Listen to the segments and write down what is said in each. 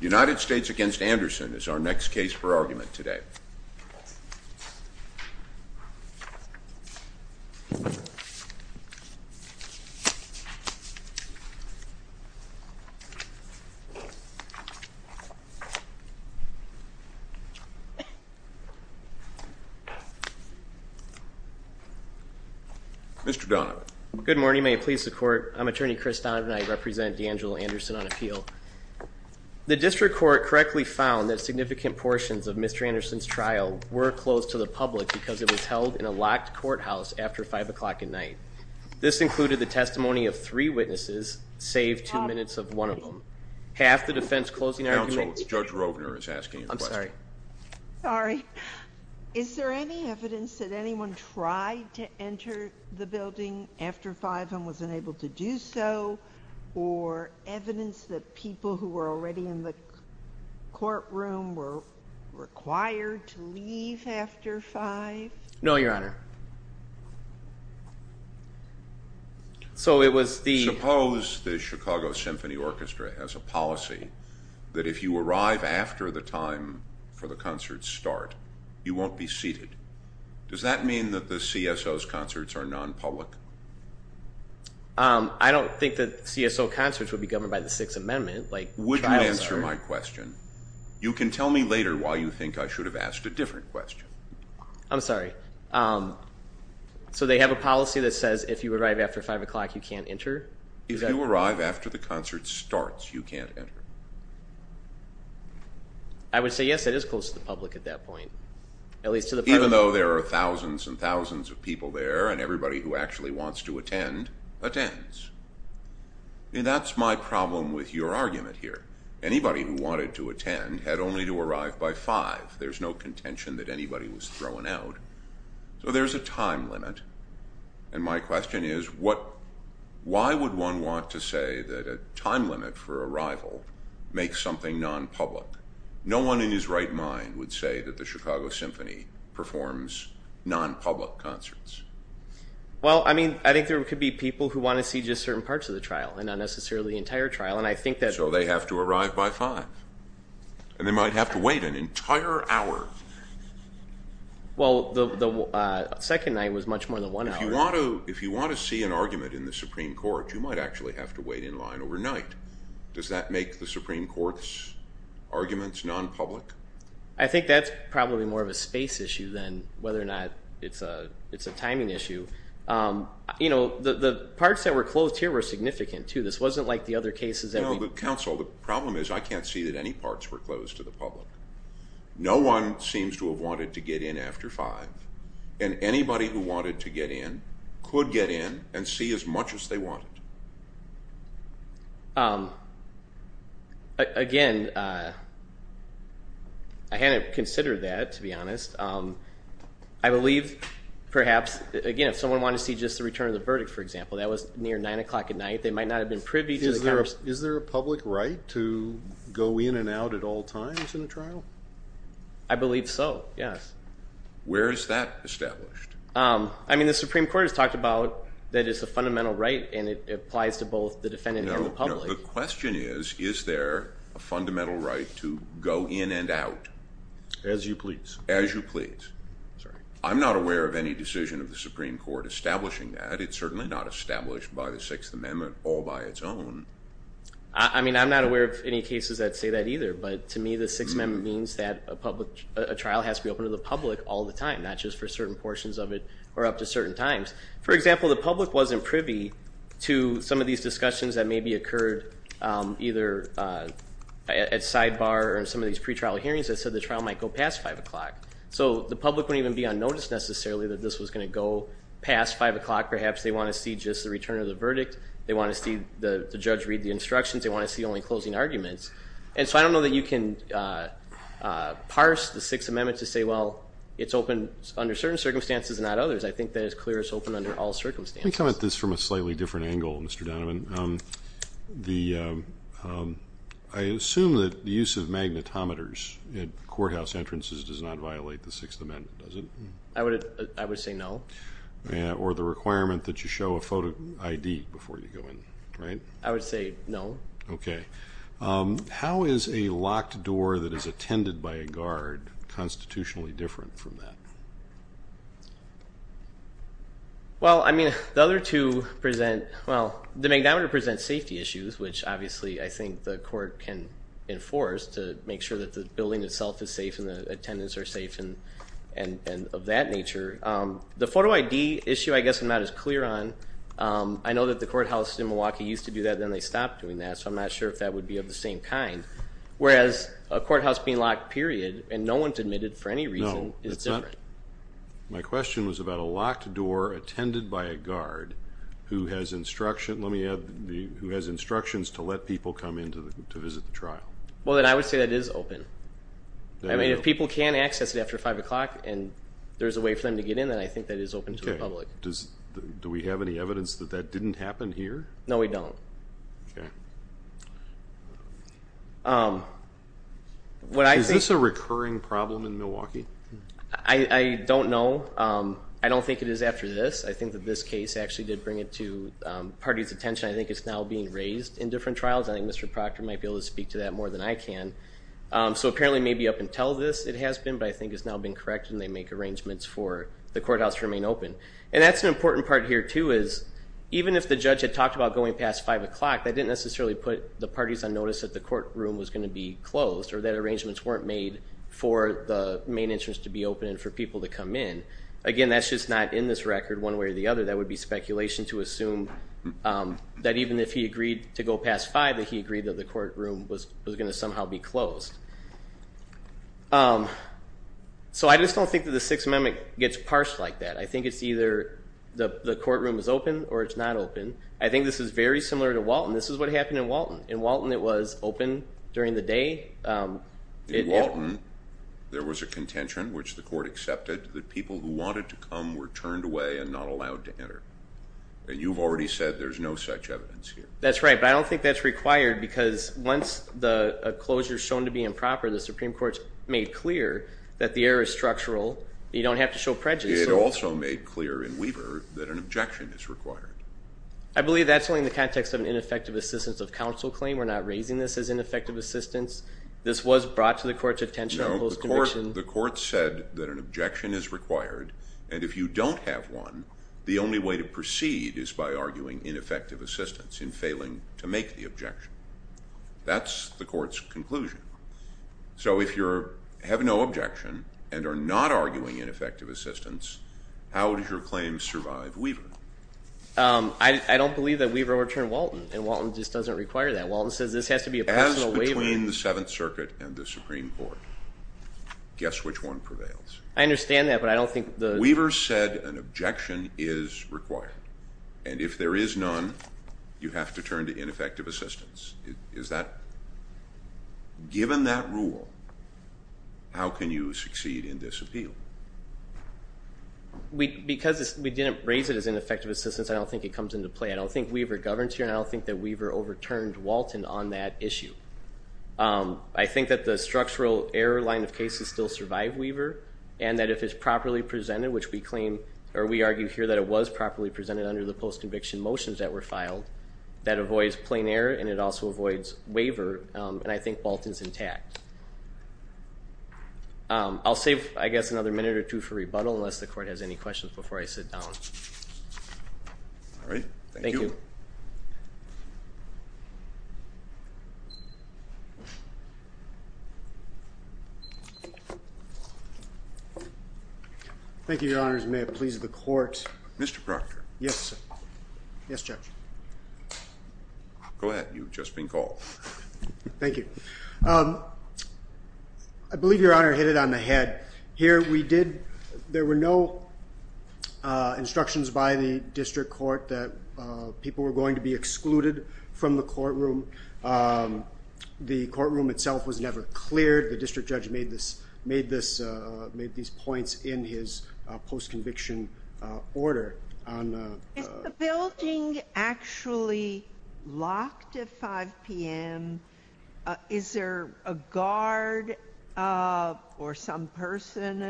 United States v. Anderson is our next case for argument today. Mr. Donovan. Good morning. May it please the Court. I'm Attorney Chris Donovan and I represent DeAngelo Anderson on appeal. The District Court correctly found that significant portions of Mr. Anderson's trial were closed to the public because it was held in a locked courthouse after 5 o'clock at night. This included the testimony of three witnesses, save two minutes of one of them. Half the defense closing argument... Counsel, Judge Rovner is asking a question. I'm sorry. Sorry. Is there any evidence that anyone tried to enter the building after 5 and was unable to do so? Or evidence that people who were already in the courtroom were required to leave after 5? No, Your Honor. So it was the... that if you arrive after the time for the concerts start, you won't be seated. Does that mean that the CSO's concerts are non-public? I don't think that CSO concerts would be governed by the Sixth Amendment. Would you answer my question? You can tell me later why you think I should have asked a different question. I'm sorry. So they have a policy that says if you arrive after 5 o'clock, you can't enter? If you arrive after the concert starts, you can't enter. I would say, yes, it is close to the public at that point. Even though there are thousands and thousands of people there, and everybody who actually wants to attend attends. That's my problem with your argument here. Anybody who wanted to attend had only to arrive by 5. There's no contention that anybody was thrown out. So there's a time limit. And my question is, why would one want to say that a time limit for arrival makes something non-public? No one in his right mind would say that the Chicago Symphony performs non-public concerts. Well, I think there could be people who want to see just certain parts of the trial and not necessarily the entire trial. So they have to arrive by 5. And they might have to wait an entire hour. Well, the second night was much more than one hour. If you want to see an argument in the Supreme Court, you might actually have to wait in line overnight. Does that make the Supreme Court's arguments non-public? I think that's probably more of a space issue than whether or not it's a timing issue. You know, the parts that were closed here were significant, too. This wasn't like the other cases. No, but, counsel, the problem is I can't see that any parts were closed to the public. No one seems to have wanted to get in after 5. And anybody who wanted to get in could get in and see as much as they wanted. Again, I hadn't considered that, to be honest. I believe perhaps, again, if someone wanted to see just the return of the verdict, for example, that was near 9 o'clock at night. They might not have been privy to the conversation. Is there a public right to go in and out at all times in a trial? I believe so, yes. Where is that established? I mean, the Supreme Court has talked about that it's a fundamental right and it applies to both the defendant and the public. The question is, is there a fundamental right to go in and out? As you please. As you please. I'm not aware of any decision of the Supreme Court establishing that. It's certainly not established by the Sixth Amendment or by its own. I mean, I'm not aware of any cases that say that either. But to me, the Sixth Amendment means that a trial has to be open to the public all the time, not just for certain portions of it or up to certain times. For example, the public wasn't privy to some of these discussions that maybe occurred either at sidebar or in some of these pretrial hearings that said the trial might go past 5 o'clock. So the public wouldn't even be unnoticed necessarily that this was going to go past 5 o'clock, perhaps they want to see just the return of the verdict, they want to see the judge read the instructions, they want to see only closing arguments. And so I don't know that you can parse the Sixth Amendment to say, well, it's open under certain circumstances and not others. I think that it's clear it's open under all circumstances. Let me come at this from a slightly different angle, Mr. Donovan. I assume that the use of magnetometers at courthouse entrances does not violate the Sixth Amendment, does it? I would say no. Or the requirement that you show a photo ID before you go in, right? I would say no. Okay. How is a locked door that is attended by a guard constitutionally different from that? Well, I mean, the other two present, well, the magnetometer presents safety issues, which obviously I think the court can enforce to make sure that the building itself is safe and the attendants are safe and of that nature. The photo ID issue I guess I'm not as clear on. I know that the courthouse in Milwaukee used to do that, then they stopped doing that, so I'm not sure if that would be of the same kind, whereas a courthouse being locked period and no one's admitted for any reason is different. My question was about a locked door attended by a guard who has instructions to let people come in to visit the trial. Well, then I would say that is open. I mean, if people can access it after 5 o'clock and there's a way for them to get in, then I think that is open to the public. Okay. Do we have any evidence that that didn't happen here? No, we don't. Okay. Is this a recurring problem in Milwaukee? I don't know. I don't think it is after this. I think that this case actually did bring it to the party's attention. I think it's now being raised in different trials. I think Mr. Proctor might be able to speak to that more than I can. So apparently maybe up until this it has been, but I think it's now been corrected and they make arrangements for the courthouse to remain open. And that's an important part here, too, is even if the judge had talked about going past 5 o'clock, that didn't necessarily put the parties on notice that the courtroom was going to be closed or that arrangements weren't made for the main entrance to be open and for people to come in. Again, that's just not in this record one way or the other. That would be speculation to assume that even if he agreed to go past 5, that he agreed that the courtroom was going to somehow be closed. So I just don't think that the Sixth Amendment gets parsed like that. I think it's either the courtroom is open or it's not open. I think this is very similar to Walton. This is what happened in Walton. In Walton it was open during the day. In Walton there was a contention, which the court accepted, that people who wanted to come were turned away and not allowed to enter. And you've already said there's no such evidence here. That's right. But I don't think that's required because once a closure is shown to be improper, the Supreme Court's made clear that the error is structural. You don't have to show prejudice. It also made clear in Weaver that an objection is required. I believe that's only in the context of an ineffective assistance of counsel claim. We're not raising this as ineffective assistance. This was brought to the court's attention. The court said that an objection is required, and if you don't have one, the only way to proceed is by arguing ineffective assistance and failing to make the objection. That's the court's conclusion. So if you have no objection and are not arguing ineffective assistance, how does your claim survive Weaver? I don't believe that Weaver overturned Walton, and Walton just doesn't require that. Walton says this has to be a personal waiver. Between the Seventh Circuit and the Supreme Court, guess which one prevails? I understand that, but I don't think the— Weaver said an objection is required, and if there is none, you have to turn to ineffective assistance. Given that rule, how can you succeed in this appeal? Because we didn't raise it as ineffective assistance, I don't think it comes into play. I don't think Weaver governs here, and I don't think that Weaver overturned Walton on that issue. I think that the structural error line of cases still survived Weaver, and that if it's properly presented, which we claim, or we argue here, that it was properly presented under the post-conviction motions that were filed, that avoids plain error and it also avoids waiver, and I think Walton's intact. I'll save, I guess, another minute or two for rebuttal, unless the court has any questions before I sit down. All right. Thank you. Thank you, Your Honors. May it please the court. Mr. Proctor. Yes, sir. Yes, Judge. I'm glad you've just been called. Thank you. I believe Your Honor hit it on the head. Here we did, there were no instructions by the district court that people were going to be excluded from the courtroom. The courtroom itself was never cleared. The district judge made these points in his post-conviction order. Is the building actually locked at 5 p.m.? Is there a guard or some person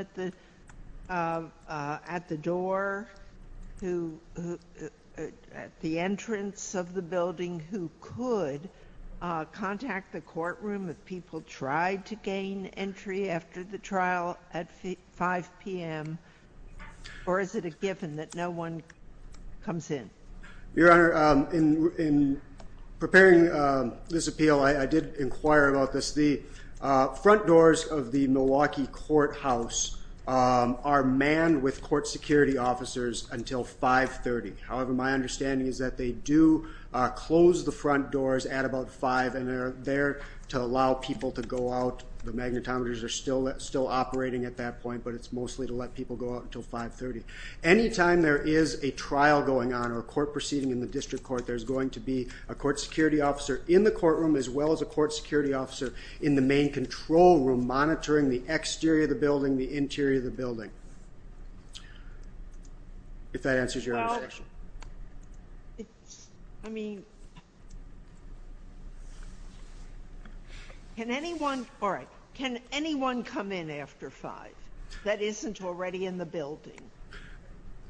at the door, at the entrance of the building who could contact the courtroom if people tried to gain entry after the trial at 5 p.m.? Or is it a given that no one comes in? Your Honor, in preparing this appeal, I did inquire about this. The front doors of the Milwaukee courthouse are manned with court security officers until 5.30. However, my understanding is that they do close the front doors at about 5 and they're there to allow people to go out. The magnetometers are still operating at that point, but it's mostly to let people go out until 5.30. Anytime there is a trial going on or a court proceeding in the district court, there's going to be a court security officer in the courtroom as well as a court security officer in the main control room monitoring the exterior of the building, the interior of the building. If that answers your question. I mean, can anyone come in after 5? That isn't already in the building.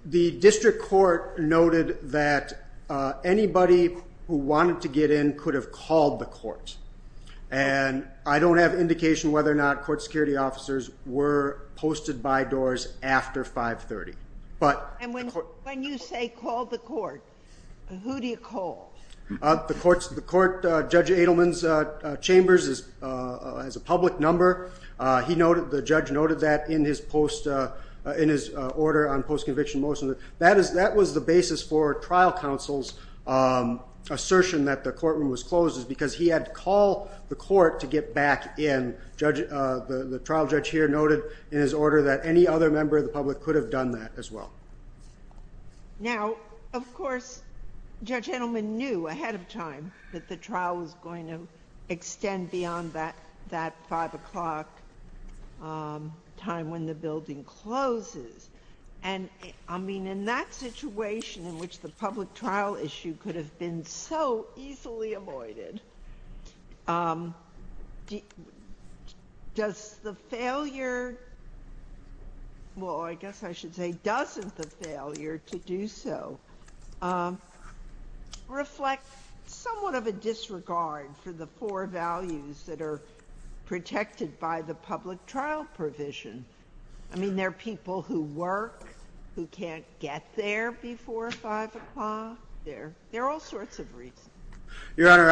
The district court noted that anybody who wanted to get in could have called the court. And I don't have indication whether or not court security officers were posted by doors after 5.30. And when you say called the court, who do you call? The court, Judge Adelman's chambers, has a public number. The judge noted that in his order on post-conviction motion. That was the basis for trial counsel's assertion that the courtroom was closed because he had to call the court to get back in. The trial judge here noted in his order that any other member of the public could have done that as well. Now, of course, Judge Adelman knew ahead of time that the trial was going to extend beyond that 5 o'clock time when the building closes. And, I mean, in that situation in which the public trial issue could have been so easily avoided, does the failure, well, I guess I should say doesn't the failure to do so, reflect somewhat of a disregard for the four values that are protected by the public trial provision? I mean, there are people who work, who can't get there before 5 o'clock. There are all sorts of reasons. Your Honor,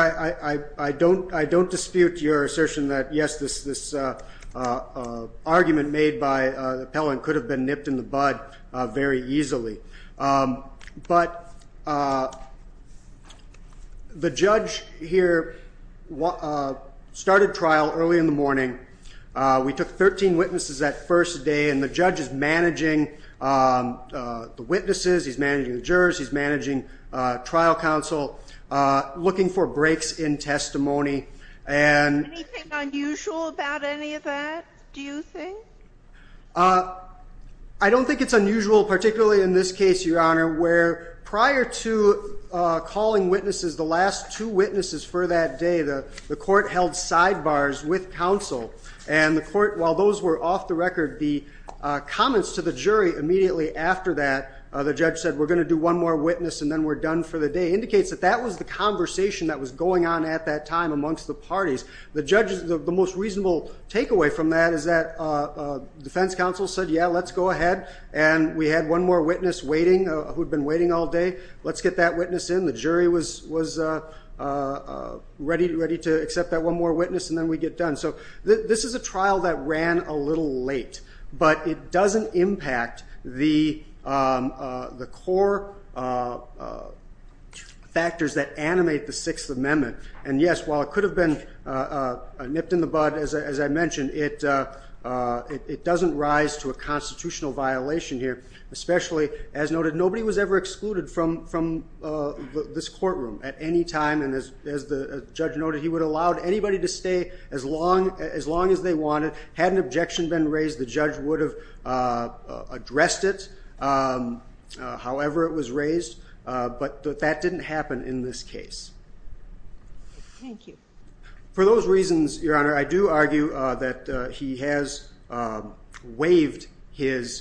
I don't dispute your assertion that, yes, this argument made by the appellant could have been nipped in the bud very easily. But the judge here started trial early in the morning. We took 13 witnesses that first day, and the judge is managing the witnesses. He's managing the jurors. He's managing trial counsel, looking for breaks in testimony. Anything unusual about any of that, do you think? I don't think it's unusual, particularly in this case, Your Honor, where prior to calling witnesses, the last two witnesses for that day, the court held sidebars with counsel, and the court, while those were off the record, the comments to the jury immediately after that, the judge said, we're going to do one more witness and then we're done for the day, indicates that that was the conversation that was going on at that time amongst the parties. The judge, the most reasonable takeaway from that is that defense counsel said, yeah, let's go ahead, and we had one more witness waiting who had been waiting all day. Let's get that witness in. The jury was ready to accept that one more witness, and then we'd get done. So this is a trial that ran a little late, but it doesn't impact the core factors that animate the Sixth Amendment. And, yes, while it could have been nipped in the bud, as I mentioned, it doesn't rise to a constitutional violation here, especially, as noted, nobody was ever excluded from this courtroom at any time, and as the judge noted, he would have allowed anybody to stay as long as they wanted. Had an objection been raised, the judge would have addressed it however it was raised, but that didn't happen in this case. Thank you. For those reasons, Your Honor, I do argue that he has waived his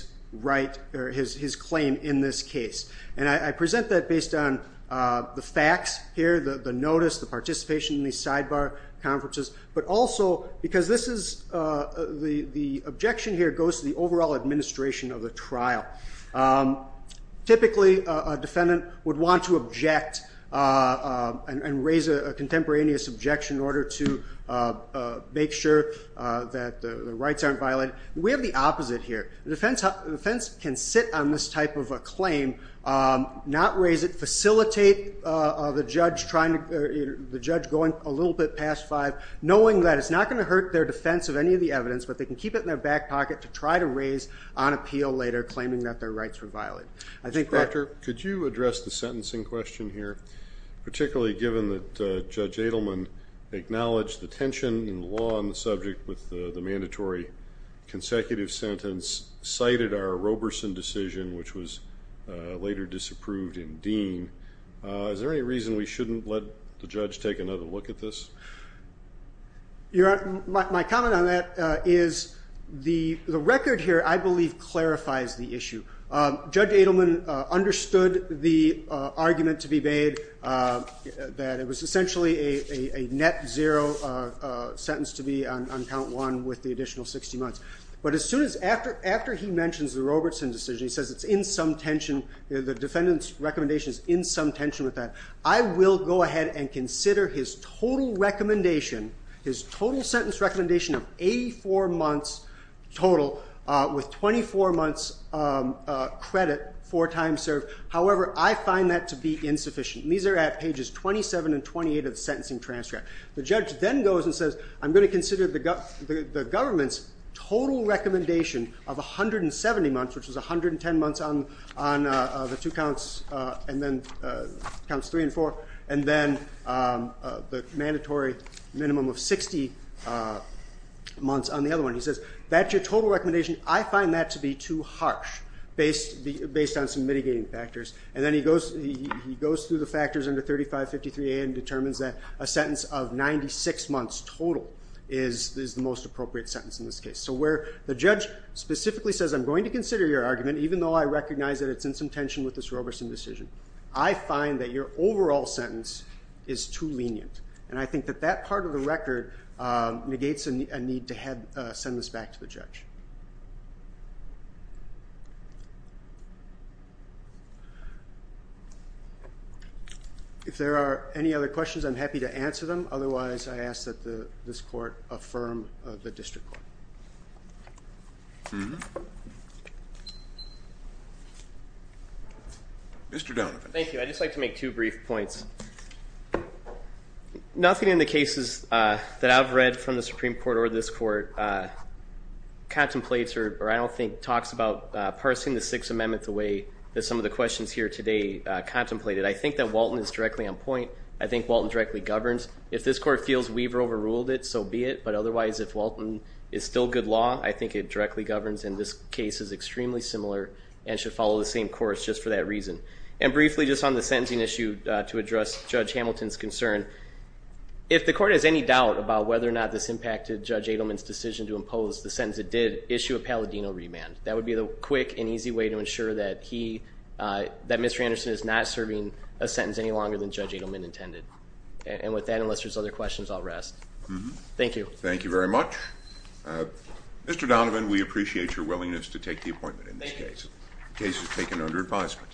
claim in this case, and I present that based on the facts here, the notice, the participation in these sidebar conferences, but also because the objection here goes to the overall administration of the trial. Typically, a defendant would want to object and raise a contemporaneous objection in order to make sure that the rights aren't violated. We have the opposite here. The defense can sit on this type of a claim, not raise it, facilitate the judge going a little bit past five, knowing that it's not going to hurt their defense of any of the evidence, but they can keep it in their back pocket to try to raise on appeal later, claiming that their rights were violated. Mr. Proctor, could you address the sentencing question here, particularly given that Judge Adelman acknowledged the tension in law on the subject with the mandatory consecutive sentence, cited our Roberson decision, which was later disapproved in Dean. Is there any reason we shouldn't let the judge take another look at this? My comment on that is the record here, I believe, clarifies the issue. Judge Adelman understood the argument to be made that it was essentially a net zero sentence to be on count one with the additional 60 months. But as soon as after he mentions the Roberson decision, he says it's in some tension, the defendant's recommendation is in some tension with that. I will go ahead and consider his total sentence recommendation of 84 months total with 24 months credit for time served. However, I find that to be insufficient. These are at pages 27 and 28 of the sentencing transcript. The judge then goes and says, I'm going to consider the government's total recommendation of 170 months, which is 110 months on the two counts, and then counts three and four, and then the mandatory minimum of 60 months on the other one. He says, that's your total recommendation. I find that to be too harsh based on some mitigating factors. And then he goes through the factors under 3553A and determines that a sentence of 96 months total is the most appropriate sentence in this case. So where the judge specifically says, I'm going to consider your argument, even though I recognize that it's in some tension with this Roberson decision, I find that your overall sentence is too lenient. And I think that that part of the record negates a need to send this back to the judge. If there are any other questions, I'm happy to answer them. Otherwise, I ask that this court affirm the district court. Mr. Donovan. Thank you. I'd just like to make two brief points. Nothing in the cases that I've read from the Supreme Court or this court contemplates or I don't think talks about parsing the Sixth Amendment the way that some of the questions here today contemplated. I think that Walton is directly on point. I think Walton directly governs. If this court feels we've overruled it, so be it. But otherwise, if Walton is still good law, I think it directly governs. And this case is extremely similar and should follow the same course just for that reason. And briefly, just on the sentencing issue to address Judge Hamilton's concern, if the court has any doubt about whether or not this impacted Judge Adelman's decision to impose the sentence it did, issue a Palladino remand. That would be the quick and easy way to ensure that he, that Mr. Anderson is not serving a sentence any longer than Judge Adelman intended. And with that, unless there's other questions, I'll rest. Thank you. Thank you very much. Mr. Donovan, we appreciate your willingness to take the appointment in this case. Thank you. The case is taken under advisement.